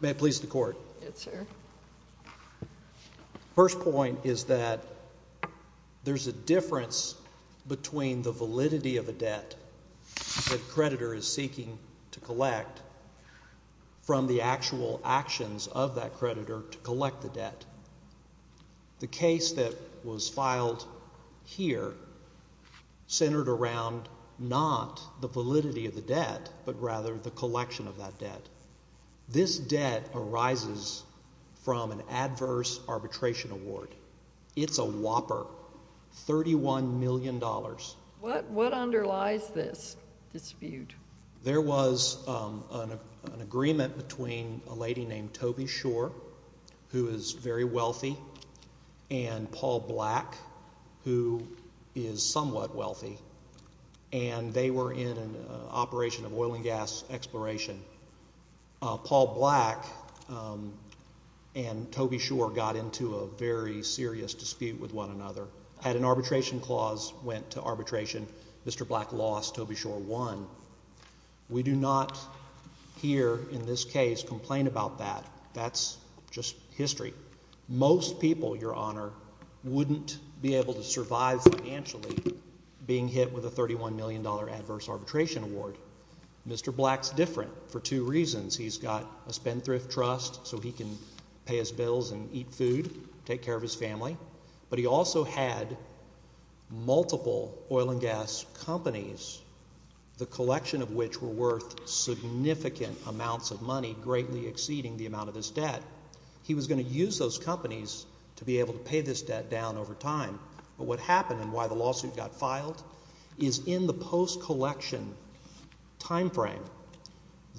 May I please the Court? Yes, sir. The first point is that there's a difference between the validity of a debt that a creditor is seeking to collect from the actual actions of that creditor to collect the debt. The case that was filed here centered around not the validity of the debt, but rather the collection of that debt. This debt arises from an adverse arbitration award. It's a whopper, $31 million. What underlies this dispute? There was an agreement between a lady named Toby Shor, who is very wealthy, and Paul Black, who is somewhat wealthy, and they were in an operation of oil and gas exploration. Paul Black and Toby Shor got into a very serious dispute with one another. Had an arbitration clause went to arbitration, Mr. Black lost, Toby Shor won. We do not here in this case complain about that. That's just history. Most people, Your Honor, wouldn't be able to survive financially being hit with a $31 million adverse arbitration award. Mr. Black's different for two reasons. He's got a spendthrift trust so he can pay his bills and eat food, take care of his family. But he also had multiple oil and gas companies, the collection of which were worth significant amounts of money, greatly exceeding the amount of his debt. He was going to use those companies to be able to pay this debt down over time. But what happened and why the lawsuit got filed is in the post-collection timeframe,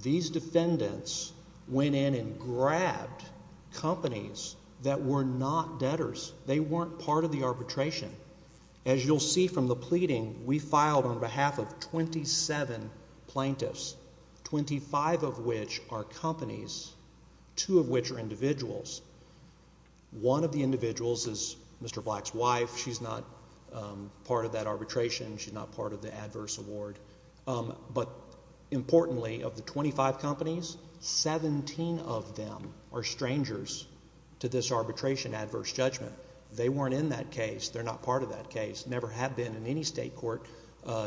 these defendants went in and grabbed companies that were not debtors. They weren't part of the arbitration. As you'll see from the pleading, we filed on behalf of 27 plaintiffs, 25 of which are companies, two of which are individuals. One of the individuals is Mr. Black's wife. She's not part of that arbitration. She's not part of the adverse award. But importantly, of the 25 companies, 17 of them are strangers to this arbitration adverse judgment. They weren't in that case. They're not part of that case, never have been in any state court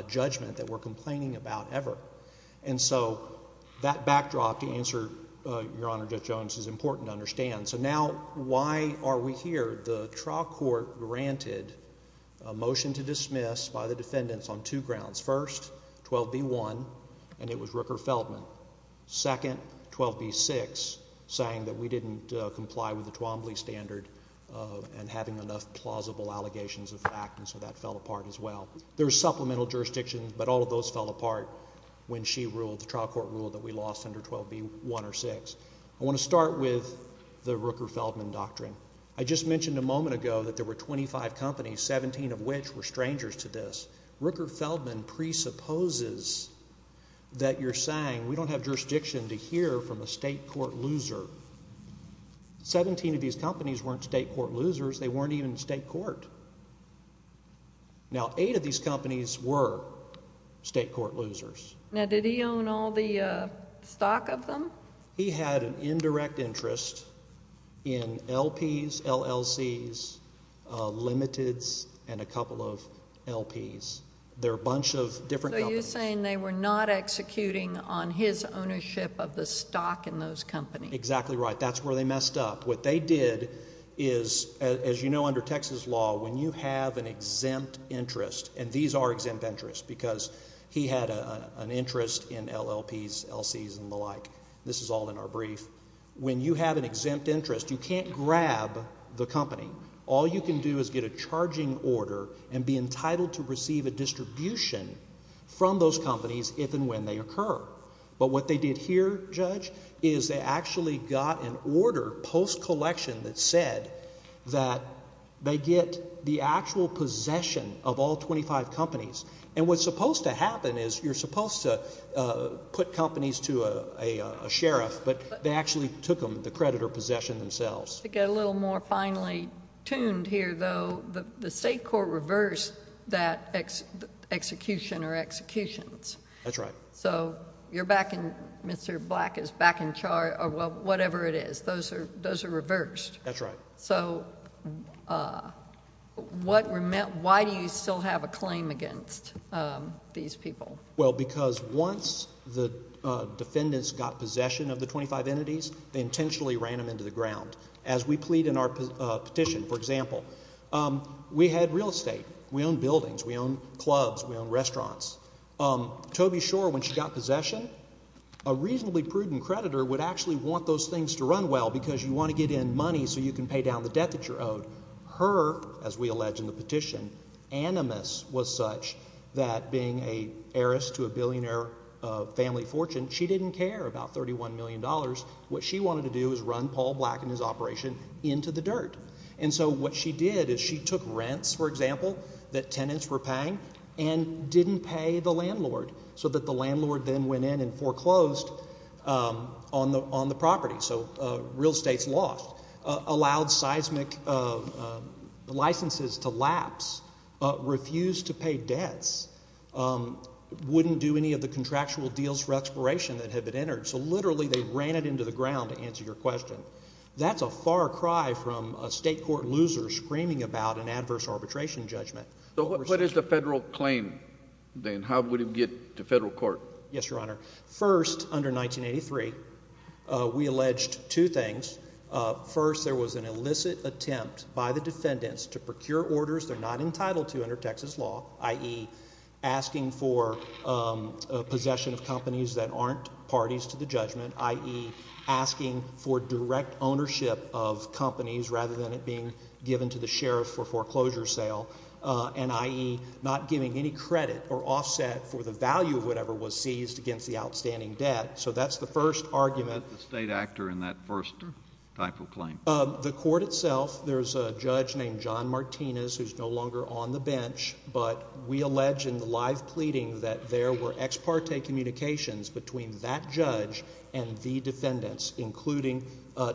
judgment that we're complaining about ever. And so that backdrop, to answer Your Honor Judge Jones, is important to understand. So now why are we here? The trial court granted a motion to dismiss by the defendants on two grounds. First, 12b-1, and it was Rooker-Feldman. Second, 12b-6, saying that we didn't comply with the Twombly standard and having enough plausible allegations of fact, and so that fell apart as well. There were supplemental jurisdictions, but all of those fell apart when she ruled, the trial court ruled, that we lost under 12b-1 or 6. I want to start with the Rooker-Feldman doctrine. I just mentioned a moment ago that there were 25 companies, 17 of which were strangers to this. Rooker-Feldman presupposes that you're saying we don't have jurisdiction to hear from a state court loser. Seventeen of these companies weren't state court losers. They weren't even in state court. Now, eight of these companies were state court losers. Now, did he own all the stock of them? He had an indirect interest in LPs, LLCs, Limiteds, and a couple of LPs. They're a bunch of different companies. So you're saying they were not executing on his ownership of the stock in those companies. Exactly right. That's where they messed up. What they did is, as you know, under Texas law, when you have an exempt interest, and these are exempt interests because he had an interest in LPs, LCs, and the like. This is all in our brief. When you have an exempt interest, you can't grab the company. All you can do is get a charging order and be entitled to receive a distribution from those companies if and when they occur. But what they did here, Judge, is they actually got an order post-collection that said that they get the actual possession of all 25 companies. And what's supposed to happen is you're supposed to put companies to a sheriff, but they actually took the credit or possession themselves. To get a little more finely tuned here, though, the state court reversed that execution or executions. That's right. So you're back and Mr. Black is back in charge or whatever it is. Those are reversed. That's right. So why do you still have a claim against these people? Well, because once the defendants got possession of the 25 entities, they intentionally ran them into the ground. As we plead in our petition, for example, we had real estate. We owned buildings. We owned clubs. We owned restaurants. Toby Shore, when she got possession, a reasonably prudent creditor would actually want those things to run well because you want to get in money so you can pay down the debt that you're owed. Her, as we allege in the petition, animus was such that being an heiress to a billionaire family fortune, she didn't care about $31 million. What she wanted to do was run Paul Black and his operation into the dirt. And so what she did is she took rents, for example, that tenants were paying and didn't pay the landlord so that the landlord then went in and foreclosed on the property. So real estate's lost. Allowed seismic licenses to lapse. Refused to pay debts. Wouldn't do any of the contractual deals for expiration that had been entered. So literally they ran it into the ground, to answer your question. That's a far cry from a state court loser screaming about an adverse arbitration judgment. What is the federal claim then? How would it get to federal court? Yes, Your Honor. First, under 1983, we alleged two things. First, there was an illicit attempt by the defendants to procure orders they're not entitled to under Texas law, i.e. asking for possession of companies that aren't parties to the judgment, i.e. asking for direct ownership of companies rather than it being given to the sheriff for foreclosure sale, and i.e. not giving any credit or offset for the value of whatever was seized against the outstanding debt. So that's the first argument. Who was the state actor in that first type of claim? The court itself. There's a judge named John Martinez who's no longer on the bench, but we allege in the live pleading that there were ex parte communications between that judge and the defendants, including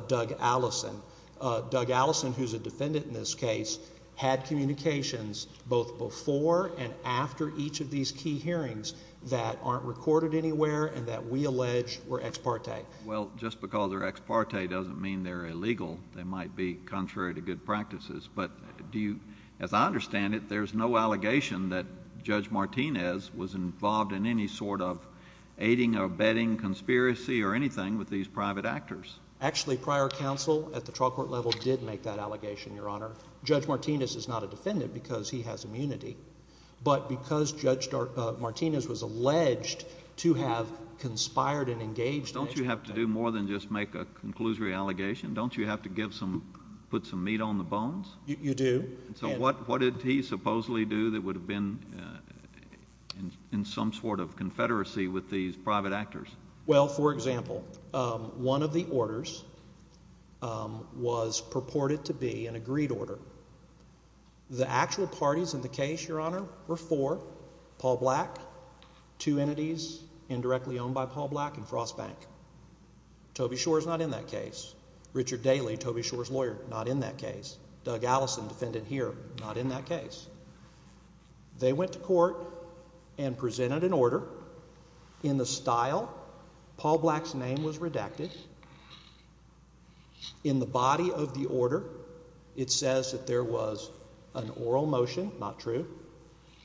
Doug Allison. Doug Allison, who's a defendant in this case, had communications both before and after each of these key hearings that aren't recorded anywhere and that we allege were ex parte. Well, just because they're ex parte doesn't mean they're illegal. They might be contrary to good practices. But do you – as I understand it, there's no allegation that Judge Martinez was involved in any sort of aiding or abetting conspiracy or anything with these private actors. Actually, prior counsel at the trial court level did make that allegation, Your Honor. Judge Martinez is not a defendant because he has immunity. But because Judge Martinez was alleged to have conspired and engaged in – Don't you have to do more than just make a conclusory allegation? Don't you have to give some – put some meat on the bones? You do. So what did he supposedly do that would have been in some sort of confederacy with these private actors? Well, for example, one of the orders was purported to be an agreed order. The actual parties in the case, Your Honor, were four. Paul Black, two entities indirectly owned by Paul Black and Frost Bank. Toby Shore is not in that case. Richard Daly, Toby Shore's lawyer, not in that case. Doug Allison, defendant here, not in that case. They went to court and presented an order in the style Paul Black's name was redacted. In the body of the order, it says that there was an oral motion, not true.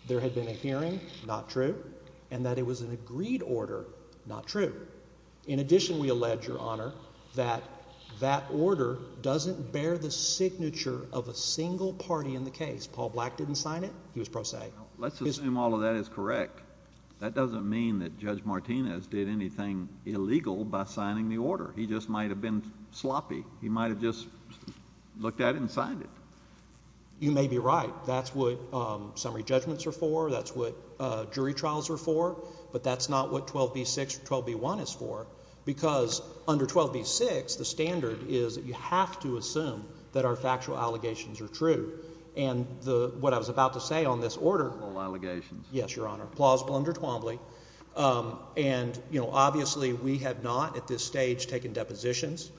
There had been a hearing, not true. And that it was an agreed order, not true. In addition, we allege, Your Honor, that that order doesn't bear the signature of a single party in the case. Paul Black didn't sign it. He was pro se. Let's assume all of that is correct. That doesn't mean that Judge Martinez did anything illegal by signing the order. He just might have been sloppy. He might have just looked at it and signed it. You may be right. That's what summary judgments are for. That's what jury trials are for. But that's not what 12b-6 or 12b-1 is for because under 12b-6, the standard is that you have to assume that our factual allegations are true. And what I was about to say on this order. All allegations. Yes, Your Honor. Plausible under Twombly. And, you know, obviously we have not at this stage taken depositions.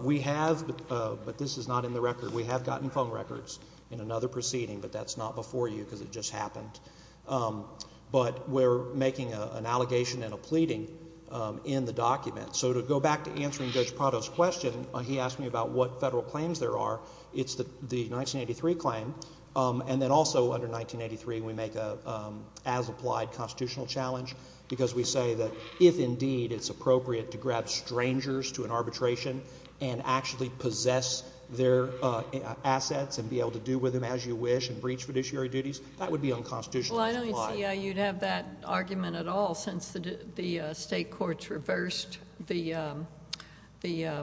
We have, but this is not in the record. We have gotten phone records in another proceeding, but that's not before you because it just happened. But we're making an allegation and a pleading in the document. So to go back to answering Judge Prado's question, he asked me about what Federal claims there are. It's the 1983 claim. And then also under 1983 we make an as-applied constitutional challenge because we say that if, indeed, it's appropriate to grab strangers to an arbitration and actually possess their assets and be able to do with them as you wish and breach fiduciary duties, that would be unconstitutional. Well, I don't see how you'd have that argument at all since the state courts reversed the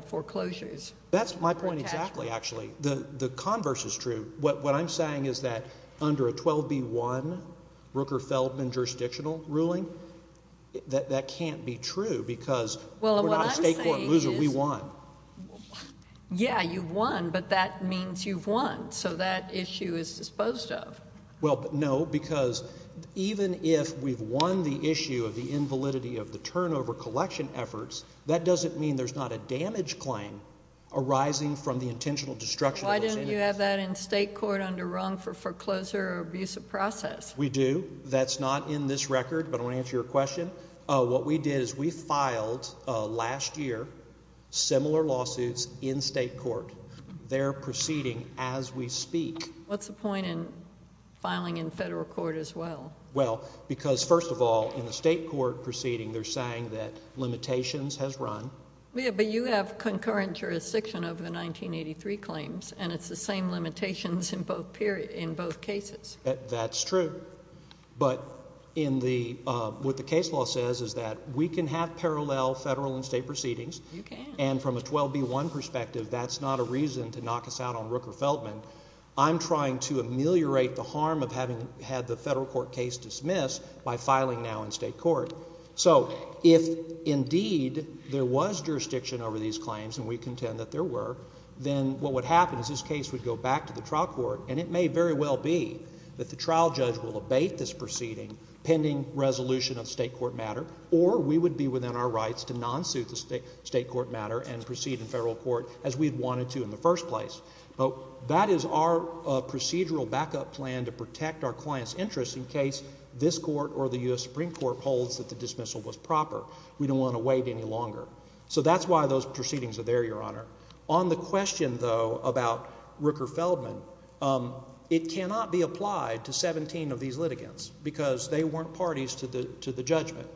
foreclosures. That's my point exactly, actually. The converse is true. What I'm saying is that under a 12B1 Rooker-Feldman jurisdictional ruling, that can't be true because we're not a state court loser. We won. Yeah, you've won, but that means you've won. So that issue is disposed of. Well, no, because even if we've won the issue of the invalidity of the turnover collection efforts, that doesn't mean there's not a damage claim arising from the intentional destruction of those entities. Why didn't you have that in state court under Rung for foreclosure or abusive process? We do. That's not in this record, but I want to answer your question. What we did is we filed last year similar lawsuits in state court. They're proceeding as we speak. What's the point in filing in federal court as well? Well, because, first of all, in a state court proceeding they're saying that limitations has run. Yeah, but you have concurrent jurisdiction over the 1983 claims, and it's the same limitations in both cases. That's true. But what the case law says is that we can have parallel federal and state proceedings. You can. And from a 12B1 perspective, that's not a reason to knock us out on Rooker-Feldman. I'm trying to ameliorate the harm of having had the federal court case dismissed by filing now in state court. So if, indeed, there was jurisdiction over these claims, and we contend that there were, then what would happen is this case would go back to the trial court, and it may very well be that the trial judge will abate this proceeding pending resolution of state court matter, or we would be within our rights to non-suit the state court matter and proceed in federal court as we'd wanted to in the first place. That is our procedural backup plan to protect our client's interest in case this court or the U.S. Supreme Court holds that the dismissal was proper. We don't want to wait any longer. So that's why those proceedings are there, Your Honor. On the question, though, about Rooker-Feldman, it cannot be applied to 17 of these litigants because they weren't parties to the judgment.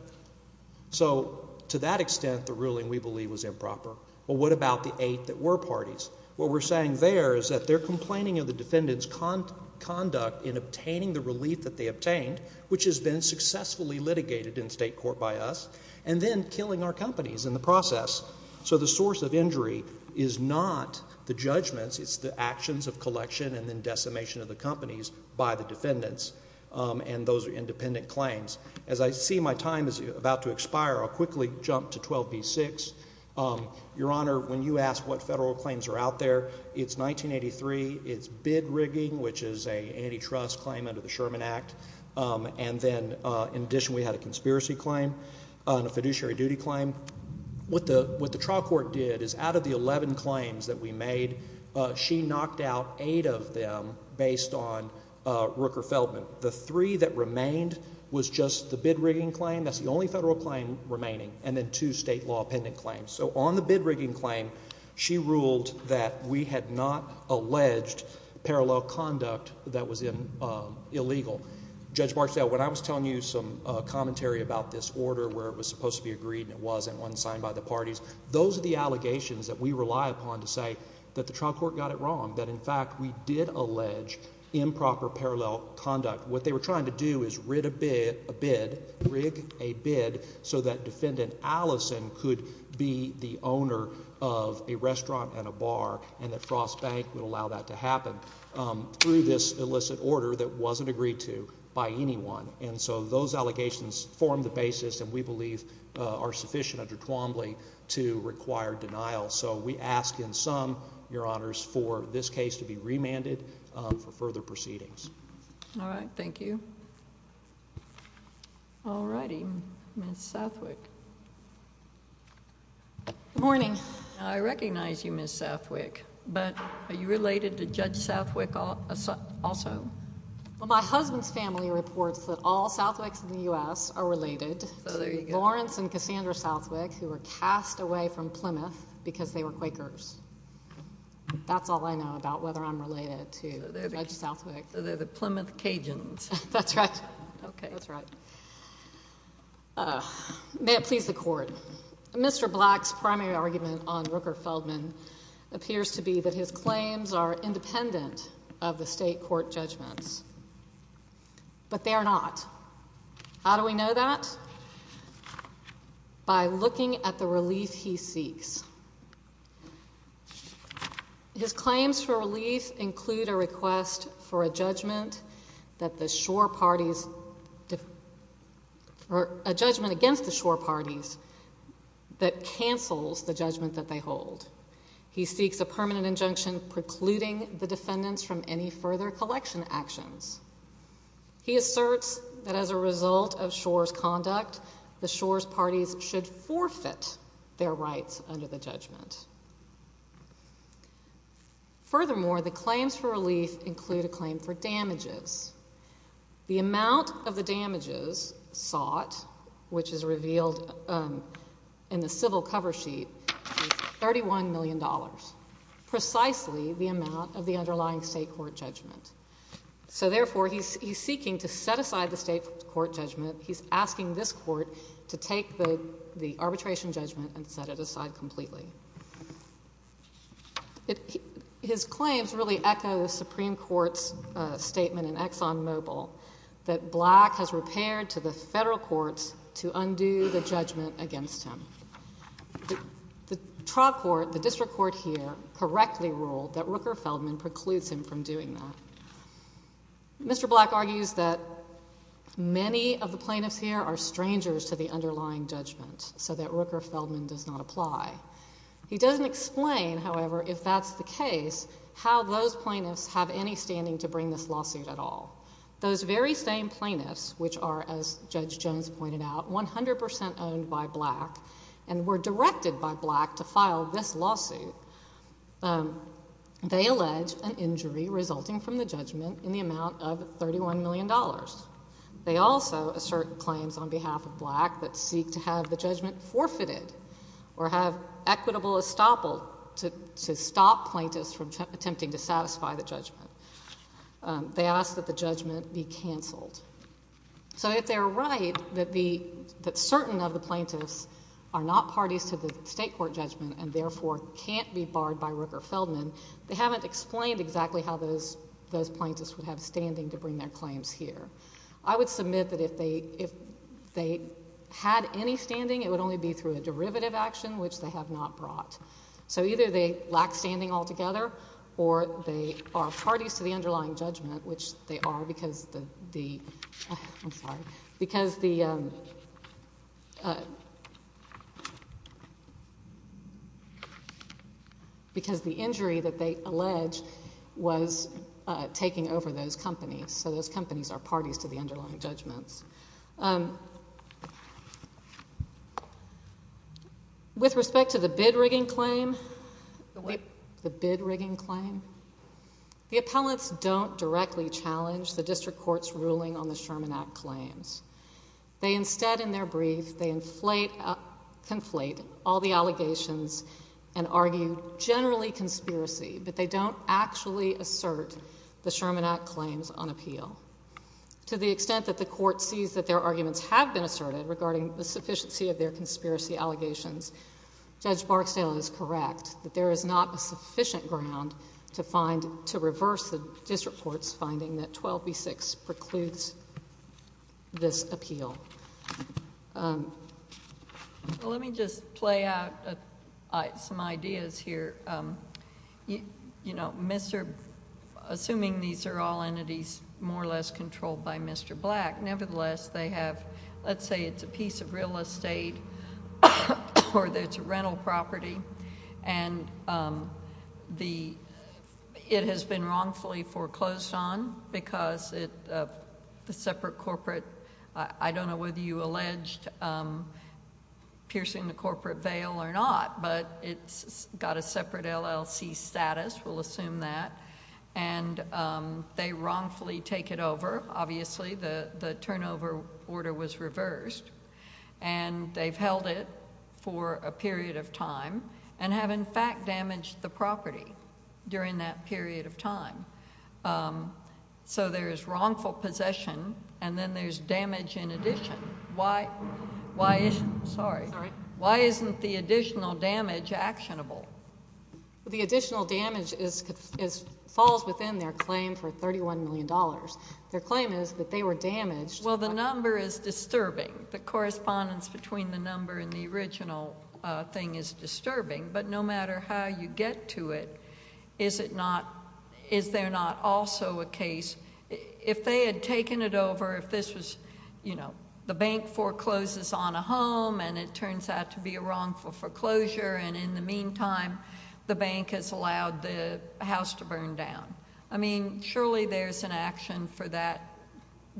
So to that extent, the ruling, we believe, was improper. Well, what about the eight that were parties? What we're saying there is that they're complaining of the defendant's conduct in obtaining the relief that they obtained, which has been successfully litigated in state court by us, and then killing our companies in the process. So the source of injury is not the judgments. It's the actions of collection and then decimation of the companies by the defendants and those independent claims. As I see my time is about to expire, I'll quickly jump to 12b-6. Your Honor, when you ask what federal claims are out there, it's 1983. It's bid rigging, which is an antitrust claim under the Sherman Act. And then, in addition, we had a conspiracy claim and a fiduciary duty claim. What the trial court did is out of the 11 claims that we made, she knocked out eight of them based on Rooker-Feldman. The three that remained was just the bid rigging claim. That's the only federal claim remaining, and then two state law-appendant claims. So on the bid rigging claim, she ruled that we had not alleged parallel conduct that was illegal. Judge Marsdale, when I was telling you some commentary about this order where it was supposed to be agreed and it wasn't, it wasn't signed by the parties, those are the allegations that we rely upon to say that the trial court got it wrong, that, in fact, we did allege improper parallel conduct. What they were trying to do is rig a bid so that Defendant Allison could be the owner of a restaurant and a bar and that Frost Bank would allow that to happen through this illicit order that wasn't agreed to by anyone. And so those allegations form the basis, and we believe are sufficient under Twombly, to require denial. So we ask in sum, Your Honors, for this case to be remanded for further proceedings. All right. Thank you. All righty. Ms. Southwick. Good morning. I recognize you, Ms. Southwick, but are you related to Judge Southwick also? Well, my husband's family reports that all Southwicks in the U.S. are related to Lawrence and Cassandra Southwick, who were cast away from Plymouth because they were Quakers. That's all I know about whether I'm related to Judge Southwick. So they're the Plymouth Cajuns. That's right. Okay. That's right. May it please the Court. Mr. Black's primary argument on Rooker Feldman appears to be that his claims are independent of the state court judgments. But they are not. How do we know that? By looking at the relief he seeks. His claims for relief include a request for a judgment against the shore parties that cancels the judgment that they hold. He seeks a permanent injunction precluding the defendants from any further collection actions. He asserts that as a result of shore's conduct, the shore's parties should forfeit their rights under the judgment. Furthermore, the claims for relief include a claim for damages. The amount of the damages sought, which is revealed in the civil cover sheet, is $31 million, precisely the amount of the underlying state court judgment. So, therefore, he's seeking to set aside the state court judgment. He's asking this court to take the arbitration judgment and set it aside completely. His claims really echo the Supreme Court's statement in ExxonMobil that Black has repaired to the federal courts to undo the judgment against him. The trial court, the district court here, correctly ruled that Rooker Feldman precludes him from doing that. Mr. Black argues that many of the plaintiffs here are strangers to the underlying judgment, so that Rooker Feldman does not apply. He doesn't explain, however, if that's the case, how those plaintiffs have any standing to bring this lawsuit at all. Those very same plaintiffs, which are, as Judge Jones pointed out, 100 percent owned by Black and were directed by Black to file this lawsuit, they allege an injury resulting from the judgment in the amount of $31 million. They also assert claims on behalf of Black that seek to have the judgment forfeited or have equitable estoppel to stop plaintiffs from attempting to satisfy the judgment. They ask that the judgment be canceled. So if they're right that certain of the plaintiffs are not parties to the state court judgment and therefore can't be barred by Rooker Feldman, they haven't explained exactly how those plaintiffs would have standing to bring their claims here. I would submit that if they had any standing, it would only be through a derivative action, which they have not brought. So either they lack standing altogether or they are parties to the underlying judgment, which they are because the injury that they allege was taking over those companies. So those companies are parties to the underlying judgments. With respect to the bid rigging claim, the bid rigging claim, the appellants don't directly challenge the district court's ruling on the Sherman Act claims. They instead, in their brief, they conflate all the allegations and argue generally conspiracy, but they don't actually assert the Sherman Act claims on appeal. To the extent that the court sees that their arguments have been asserted regarding the sufficiency of their conspiracy allegations, Judge Barksdale is correct that there is not a sufficient ground to find, to reverse the district court's finding that 12b-6 precludes this appeal. Let me just play out some ideas here. Assuming these are all entities more or less controlled by Mr. Black, nevertheless they have, let's say it's a piece of real estate or it's a rental property, and it has been wrongfully foreclosed on because of the separate corporate, I don't know whether you alleged piercing the corporate veil or not, but it's got a separate LLC status, we'll assume that, and they wrongfully take it over. Obviously the turnover order was reversed, and they've held it for a period of time and have in fact damaged the property during that period of time. So there is wrongful possession, and then there's damage in addition. Why isn't the additional damage actionable? The additional damage falls within their claim for $31 million. Their claim is that they were damaged. Well, the number is disturbing. The correspondence between the number and the original thing is disturbing, but no matter how you get to it, is there not also a case, if they had taken it over, if this was, you know, the bank forecloses on a home and it turns out to be a wrongful foreclosure, and in the meantime the bank has allowed the house to burn down. I mean surely there's an action for that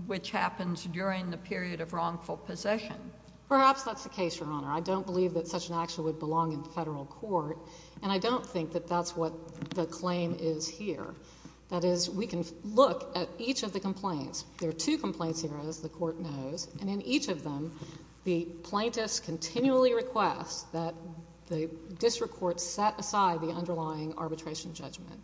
which happens during the period of wrongful possession. Perhaps that's the case, Your Honor. I don't believe that such an action would belong in federal court, and I don't think that that's what the claim is here. That is, we can look at each of the complaints. There are two complaints here, as the court knows, and in each of them the plaintiffs continually request that the district court set aside the underlying arbitration judgment.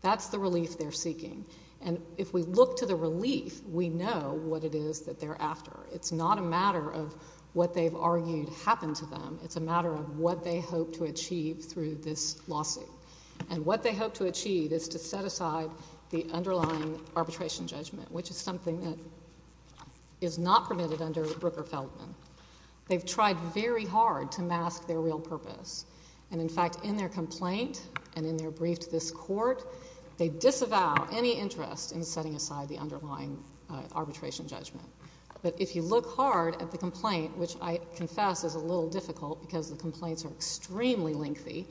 That's the relief they're seeking. And if we look to the relief, we know what it is that they're after. It's not a matter of what they've argued happened to them. It's a matter of what they hope to achieve through this lawsuit. And what they hope to achieve is to set aside the underlying arbitration judgment, which is something that is not permitted under Brooker-Feldman. They've tried very hard to mask their real purpose, and in fact in their complaint and in their brief to this court, they disavow any interest in setting aside the underlying arbitration judgment. But if you look hard at the complaint, which I confess is a little difficult because the complaints are extremely lengthy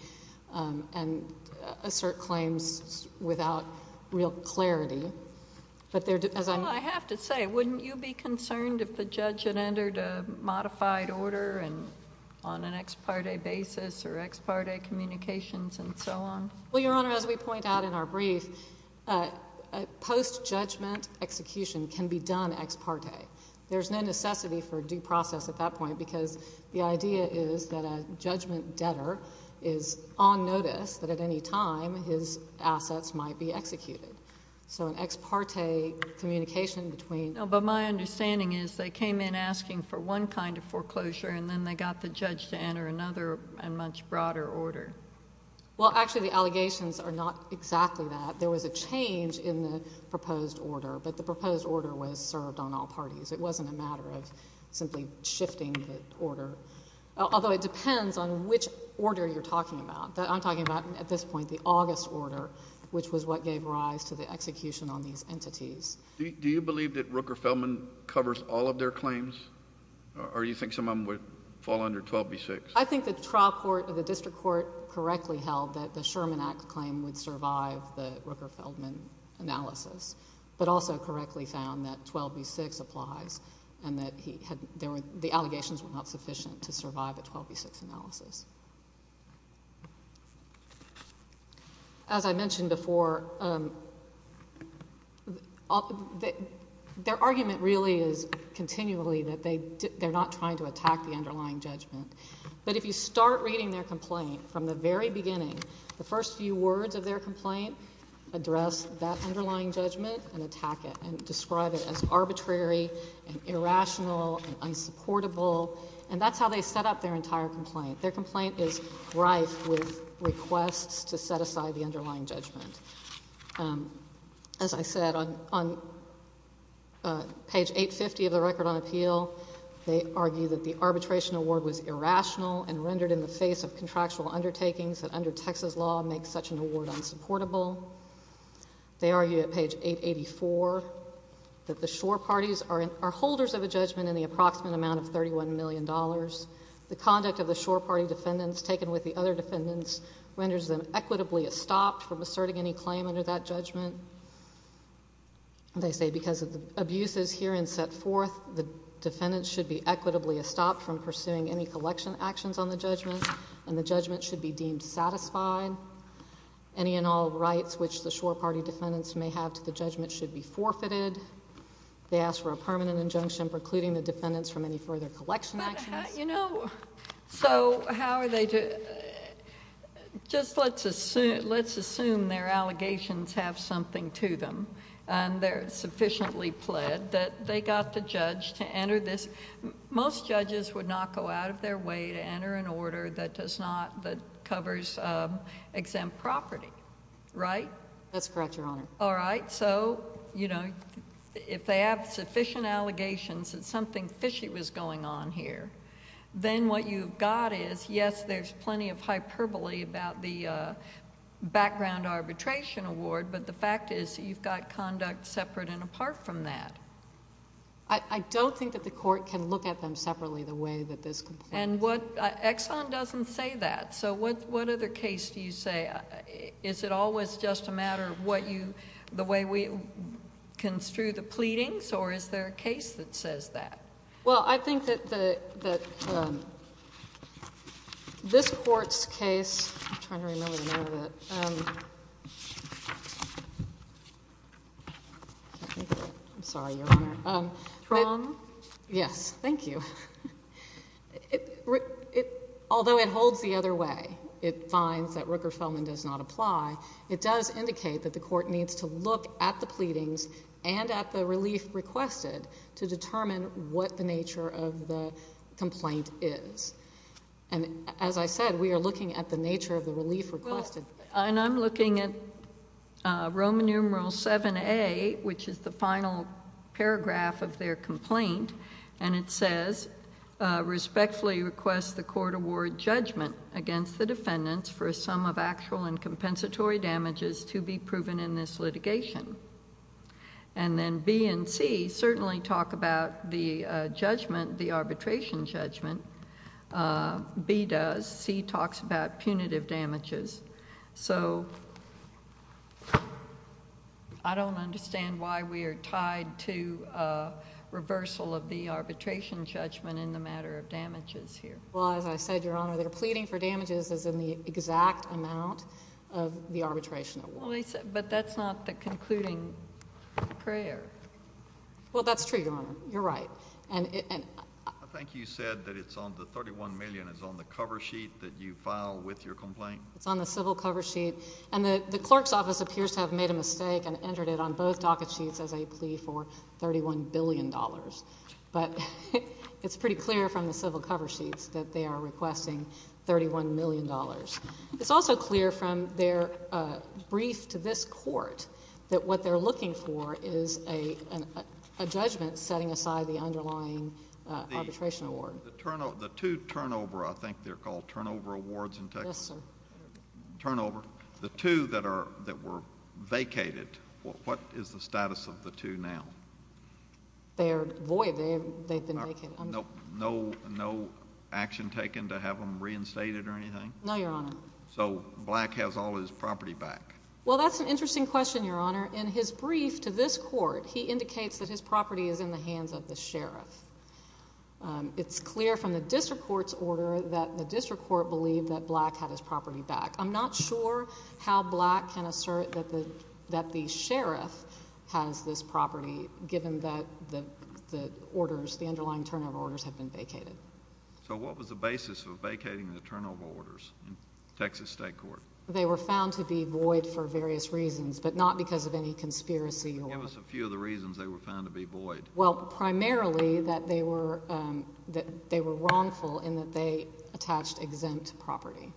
and assert claims without real clarity. I have to say, wouldn't you be concerned if the judge had entered a modified order on an ex parte basis or ex parte communications and so on? Well, Your Honor, as we point out in our brief, post-judgment execution can be done ex parte. There's no necessity for due process at that point because the idea is that a judgment debtor is on notice that at any time his assets might be executed. So an ex parte communication between... No, but my understanding is they came in asking for one kind of foreclosure and then they got the judge to enter another, a much broader order. Well, actually the allegations are not exactly that. There was a change in the proposed order, but the proposed order was served on all parties. It wasn't a matter of simply shifting the order. Although it depends on which order you're talking about. I'm talking about at this point the August order, which was what gave rise to the execution on these entities. Do you believe that Rooker-Feldman covers all of their claims? Or do you think some of them would fall under 12B6? I think the district court correctly held that the Sherman Act claim would survive the Rooker-Feldman analysis, but also correctly found that 12B6 applies and that the allegations were not sufficient to survive a 12B6 analysis. As I mentioned before, their argument really is continually that they're not trying to attack the underlying judgment. But if you start reading their complaint from the very beginning, the first few words of their complaint address that underlying judgment and attack it and describe it as arbitrary and irrational and unsupportable, and that's how they set up their entire complaint. Their complaint is rife with requests to set aside the underlying judgment. As I said, on page 850 of the record on appeal, they argue that the arbitration award was irrational and rendered in the face of contractual undertakings that under Texas law make such an award unsupportable. They argue at page 884 that the shore parties are holders of a judgment in the approximate amount of $31 million. The conduct of the shore party defendants taken with the other defendants renders them equitably estopped from asserting any claim under that judgment. They say because of the abuses here and set forth, the defendants should be equitably estopped from pursuing any collection actions on the judgment, and the judgment should be deemed satisfied. Any and all rights which the shore party defendants may have to the judgment should be forfeited. They ask for a permanent injunction precluding the defendants from any further collection actions. But, you know, so how are they to, just let's assume their allegations have something to them and they're sufficiently pled that they got the judge to enter this. Most judges would not go out of their way to enter an order that does not, that covers exempt property, right? That's correct, Your Honor. All right. So, you know, if they have sufficient allegations that something fishy was going on here, then what you've got is, yes, there's plenty of hyperbole about the background arbitration award, but the fact is you've got conduct separate and apart from that. I don't think that the court can look at them separately the way that this complaint... And what, Exxon doesn't say that. So what other case do you say? Is it always just a matter of what you, the way we construe the pleadings or is there a case that says that? Well, I think that this Court's case, I'm trying to remember the name of it. I'm sorry, Your Honor. Tron? Yes. Thank you. Although it holds the other way, it finds that Rooker-Feldman does not apply, it does indicate that the Court needs to look at the pleadings and at the relief requested to determine what the nature of the complaint is. And as I said, we are looking at the nature of the relief requested. And I'm looking at Roman numeral 7A, which is the final paragraph of their complaint. And it says, respectfully request the court award judgment against the defendants for a sum of actual and compensatory damages to be proven in this litigation. And then B and C certainly talk about the judgment, the arbitration judgment. B does. C talks about punitive damages. So I don't understand why we are tied to reversal of the arbitration judgment in the matter of damages here. Well, as I said, Your Honor, their pleading for damages is in the exact amount of the arbitration. But that's not the concluding prayer. Well, that's true, Your Honor. You're right. I think you said that the $31 million is on the cover sheet that you file with your complaint? It's on the civil cover sheet. And the clerk's office appears to have made a mistake and entered it on both docket sheets as a plea for $31 billion. But it's pretty clear from the civil cover sheets that they are requesting $31 million. It's also clear from their brief to this court that what they're looking for is a judgment setting aside the underlying arbitration award. The two turnover, I think they're called turnover awards in Texas? Yes, sir. Turnover. The two that were vacated, what is the status of the two now? They are void. They've been vacated. No action taken to have them reinstated or anything? No, Your Honor. So Black has all his property back? Well, that's an interesting question, Your Honor. In his brief to this court, he indicates that his property is in the hands of the sheriff. It's clear from the district court's order that the district court believed that Black had his property back. I'm not sure how Black can assert that the sheriff has this property given that the orders, the underlying turnover orders, have been vacated. So what was the basis of vacating the turnover orders in Texas state court? They were found to be void for various reasons, but not because of any conspiracy. Give us a few of the reasons they were found to be void. Well, primarily that they were wrongful in that they attached exempt property.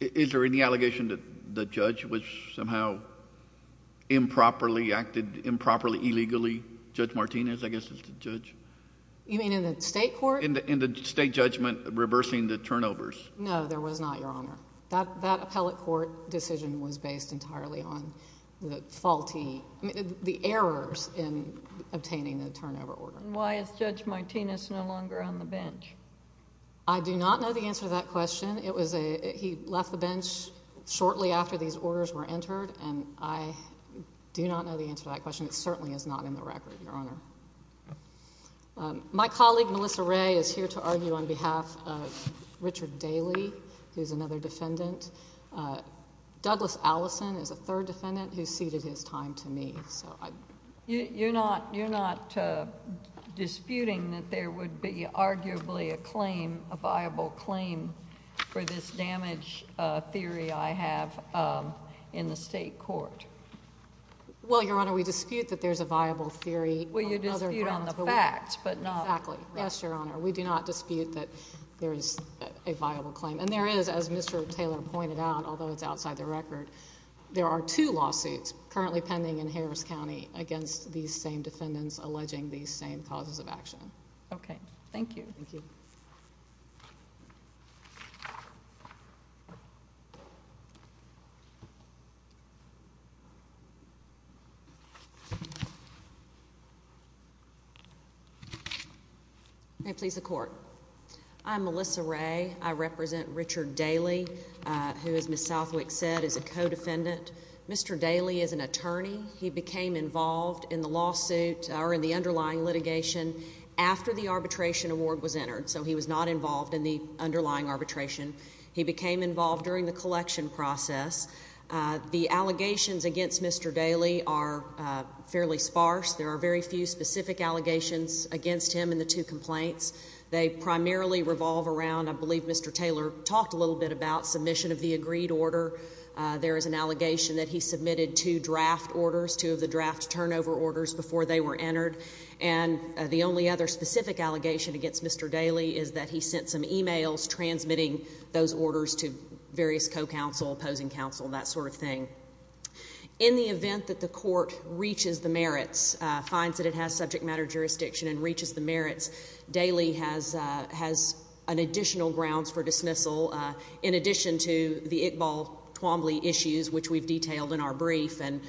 Is there any allegation that the judge was somehow improperly acted, improperly, illegally, Judge Martinez, I guess is the judge? You mean in the state court? In the state judgment reversing the turnovers. No, there was not, Your Honor. That appellate court decision was based entirely on the faulty, the errors in obtaining the turnover order. And why is Judge Martinez no longer on the bench? I do not know the answer to that question. He left the bench shortly after these orders were entered, and I do not know the answer to that question. It certainly is not in the record, Your Honor. My colleague, Melissa Ray, is here to argue on behalf of Richard Daly, who is another defendant. Douglas Allison is a third defendant who ceded his time to me. You're not disputing that there would be arguably a claim, a viable claim, for this damage theory I have in the state court? Well, Your Honor, we dispute that there is a viable theory. Well, you dispute on the facts, but not. Exactly. Yes, Your Honor, we do not dispute that there is a viable claim. And there is, as Mr. Taylor pointed out, although it's outside the record, there are two lawsuits currently pending in Harris County against these same defendants alleging these same causes of action. Okay. Thank you. Thank you. Okay. Please, the Court. I'm Melissa Ray. I represent Richard Daly, who, as Ms. Southwick said, is a co-defendant. Mr. Daly is an attorney. He became involved in the lawsuit or in the underlying litigation after the arbitration award was entered, so he was not involved in the underlying arbitration. He became involved during the collection process. The allegations against Mr. Daly are fairly sparse. There are very few specific allegations against him in the two complaints. They primarily revolve around, I believe Mr. Taylor talked a little bit about, submission of the agreed order. There is an allegation that he submitted two draft orders, two of the draft turnover orders, before they were entered. And the only other specific allegation against Mr. Daly is that he sent some emails transmitting those orders to various co-counsel, opposing counsel, that sort of thing. In the event that the Court reaches the merits, finds that it has subject matter jurisdiction and reaches the merits, Daly has additional grounds for dismissal. In addition to the Iqbal Twombly issues, which we've detailed in our brief, and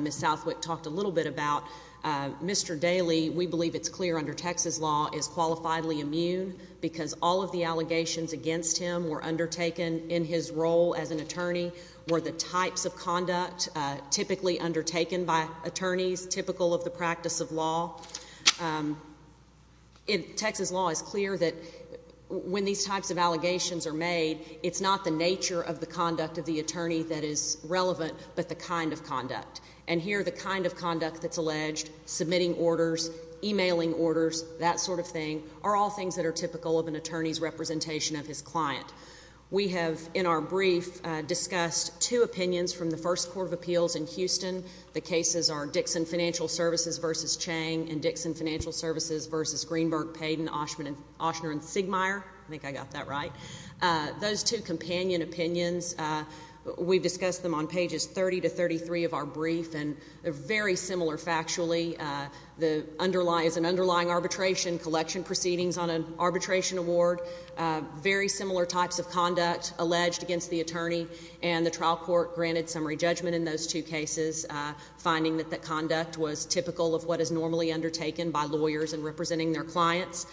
Ms. Southwick talked a little bit about, Mr. Daly, we believe it's clear under Texas law, is qualifiably immune because all of the allegations against him were undertaken in his role as an attorney or the types of conduct typically undertaken by attorneys, typical of the practice of law. In Texas law, it's clear that when these types of allegations are made, it's not the nature of the conduct of the attorney that is relevant, but the kind of conduct. And here, the kind of conduct that's alleged, submitting orders, emailing orders, that sort of thing, are all things that are typical of an attorney's representation of his client. We have, in our brief, discussed two opinions from the First Court of Appeals in Houston. The cases are Dixon Financial Services v. Chang and Dixon Financial Services v. Greenberg, Payden, Oshner, and Siegmeyer. I think I got that right. Those two companion opinions, we've discussed them on pages 30 to 33 of our brief, and they're very similar factually. There is an underlying arbitration, collection proceedings on an arbitration award, very similar types of conduct alleged against the attorney, and the trial court granted summary judgment in those two cases, finding that that conduct was typical of what is normally undertaken by lawyers in representing their clients.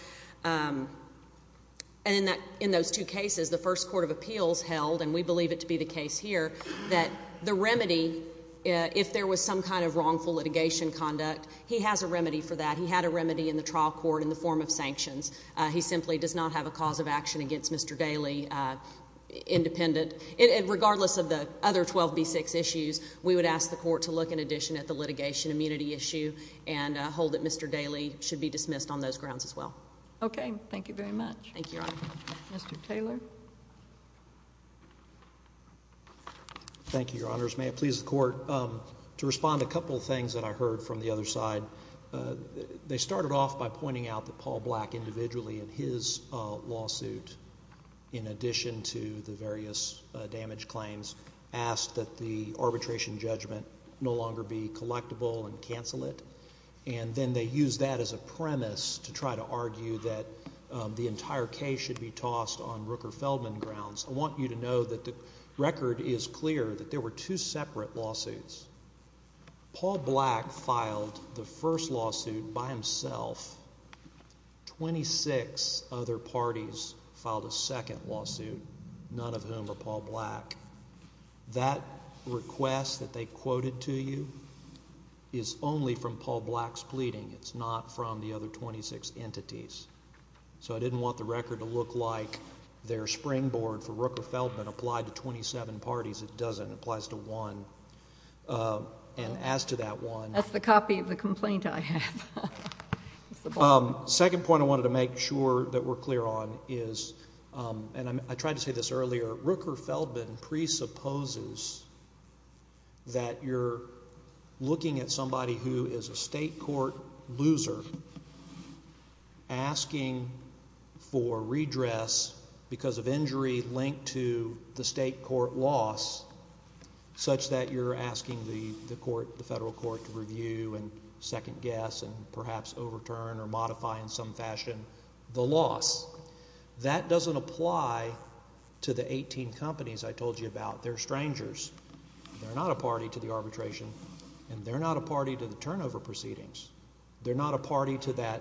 And in those two cases, the First Court of Appeals held, and we believe it to be the case here, that the remedy, if there was some kind of wrongful litigation conduct, he has a remedy for that. He had a remedy in the trial court in the form of sanctions. He simply does not have a cause of action against Mr. Daley, independent. And regardless of the other 12B6 issues, we would ask the Court to look in addition at the litigation immunity issue and hold that Mr. Daley should be dismissed on those grounds as well. Okay. Thank you very much. Thank you, Your Honor. Mr. Taylor. Thank you, Your Honors. May it please the Court, to respond to a couple of things that I heard from the other side. They started off by pointing out that Paul Black, individually, in his lawsuit, in addition to the various damage claims, asked that the arbitration judgment no longer be collectible and cancel it. And then they used that as a premise to try to argue that the entire case should be tossed on Rooker-Feldman grounds. I want you to know that the record is clear that there were two separate lawsuits. Paul Black filed the first lawsuit by himself. Twenty-six other parties filed a second lawsuit, none of whom were Paul Black. That request that they quoted to you is only from Paul Black's pleading. It's not from the other 26 entities. So I didn't want the record to look like their springboard for Rooker-Feldman applied to 27 parties. It doesn't. It applies to one. And as to that one. That's the copy of the complaint I have. The second point I wanted to make sure that we're clear on is, and I tried to say this earlier, Rooker-Feldman presupposes that you're looking at somebody who is a state court loser, asking for redress because of injury linked to the state court loss, such that you're asking the federal court to review and second guess and perhaps overturn or modify in some fashion the loss. That doesn't apply to the 18 companies I told you about. They're strangers. They're not a party to the arbitration, and they're not a party to the turnover proceedings. They're not a party to that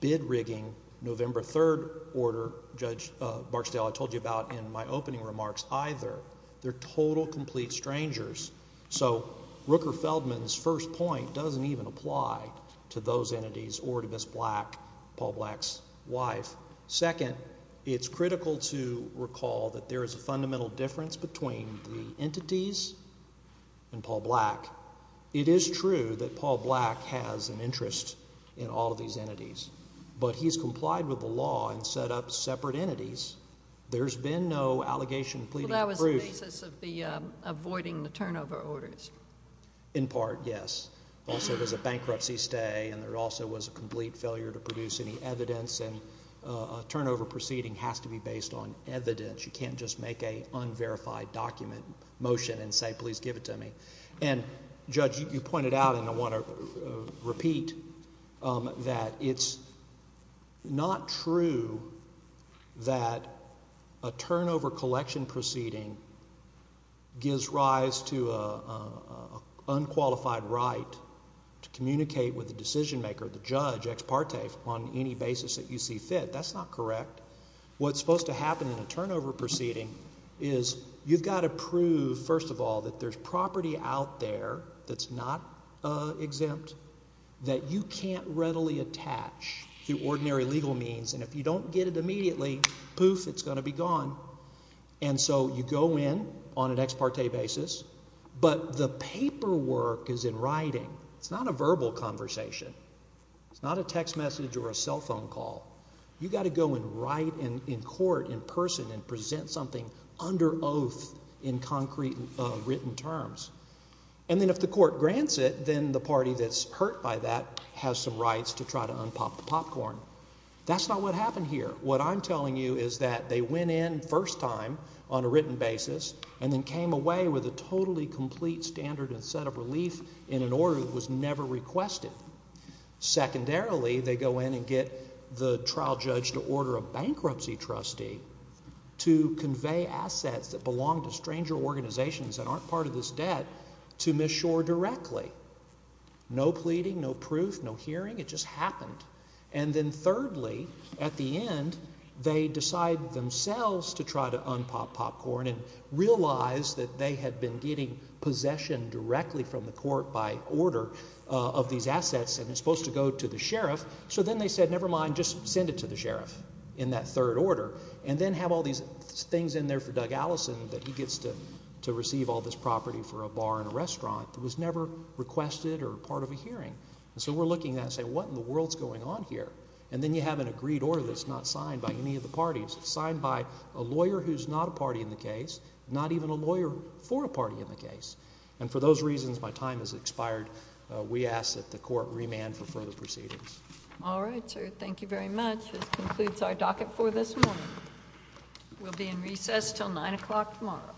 bid rigging November 3rd order, Judge Barksdale, I told you about in my opening remarks either. They're total, complete strangers. So Rooker-Feldman's first point doesn't even apply to those entities or to Miss Black, Paul Black's wife. Second, it's critical to recall that there is a fundamental difference between the entities and Paul Black. It is true that Paul Black has an interest in all of these entities, but he's complied with the law and set up separate entities. There's been no allegation pleading for proof. Well, that was the basis of the avoiding the turnover orders. In part, yes. Also, there's a bankruptcy stay, and there also was a complete failure to produce any evidence, and a turnover proceeding has to be based on evidence. You can't just make an unverified document motion and say, please give it to me. And, Judge, you pointed out, and I want to repeat, that it's not true that a turnover collection proceeding gives rise to an unqualified right to communicate with the decision maker, the judge, ex parte, on any basis that you see fit. That's not correct. What's supposed to happen in a turnover proceeding is you've got to prove, first of all, that there's property out there that's not exempt, that you can't readily attach through ordinary legal means, and if you don't get it immediately, poof, it's going to be gone. And so you go in on an ex parte basis, but the paperwork is in writing. It's not a verbal conversation. It's not a text message or a cell phone call. You've got to go and write in court, in person, and present something under oath in concrete written terms. And then if the court grants it, then the party that's hurt by that has some rights to try to unpop the popcorn. That's not what happened here. What I'm telling you is that they went in first time on a written basis and then came away with a totally complete standard and set of relief in an order that was never requested. Secondarily, they go in and get the trial judge to order a bankruptcy trustee to convey assets that belong to stranger organizations that aren't part of this debt to Miss Shore directly. No pleading, no proof, no hearing. It just happened. And then thirdly, at the end, they decide themselves to try to unpop popcorn and realize that they had been getting possession directly from the court by order of these assets, and it's supposed to go to the sheriff. So then they said, never mind, just send it to the sheriff in that third order, and then have all these things in there for Doug Allison that he gets to receive all this property for a bar and a restaurant that was never requested or part of a hearing. So we're looking at, say, what in the world is going on here? And then you have an agreed order that's not signed by any of the parties. It's signed by a lawyer who's not a party in the case, not even a lawyer for a party in the case. And for those reasons, my time has expired. We ask that the court remand for further proceedings. All right, sir. Thank you very much. This concludes our docket for this morning. We'll be in recess until 9 o'clock tomorrow.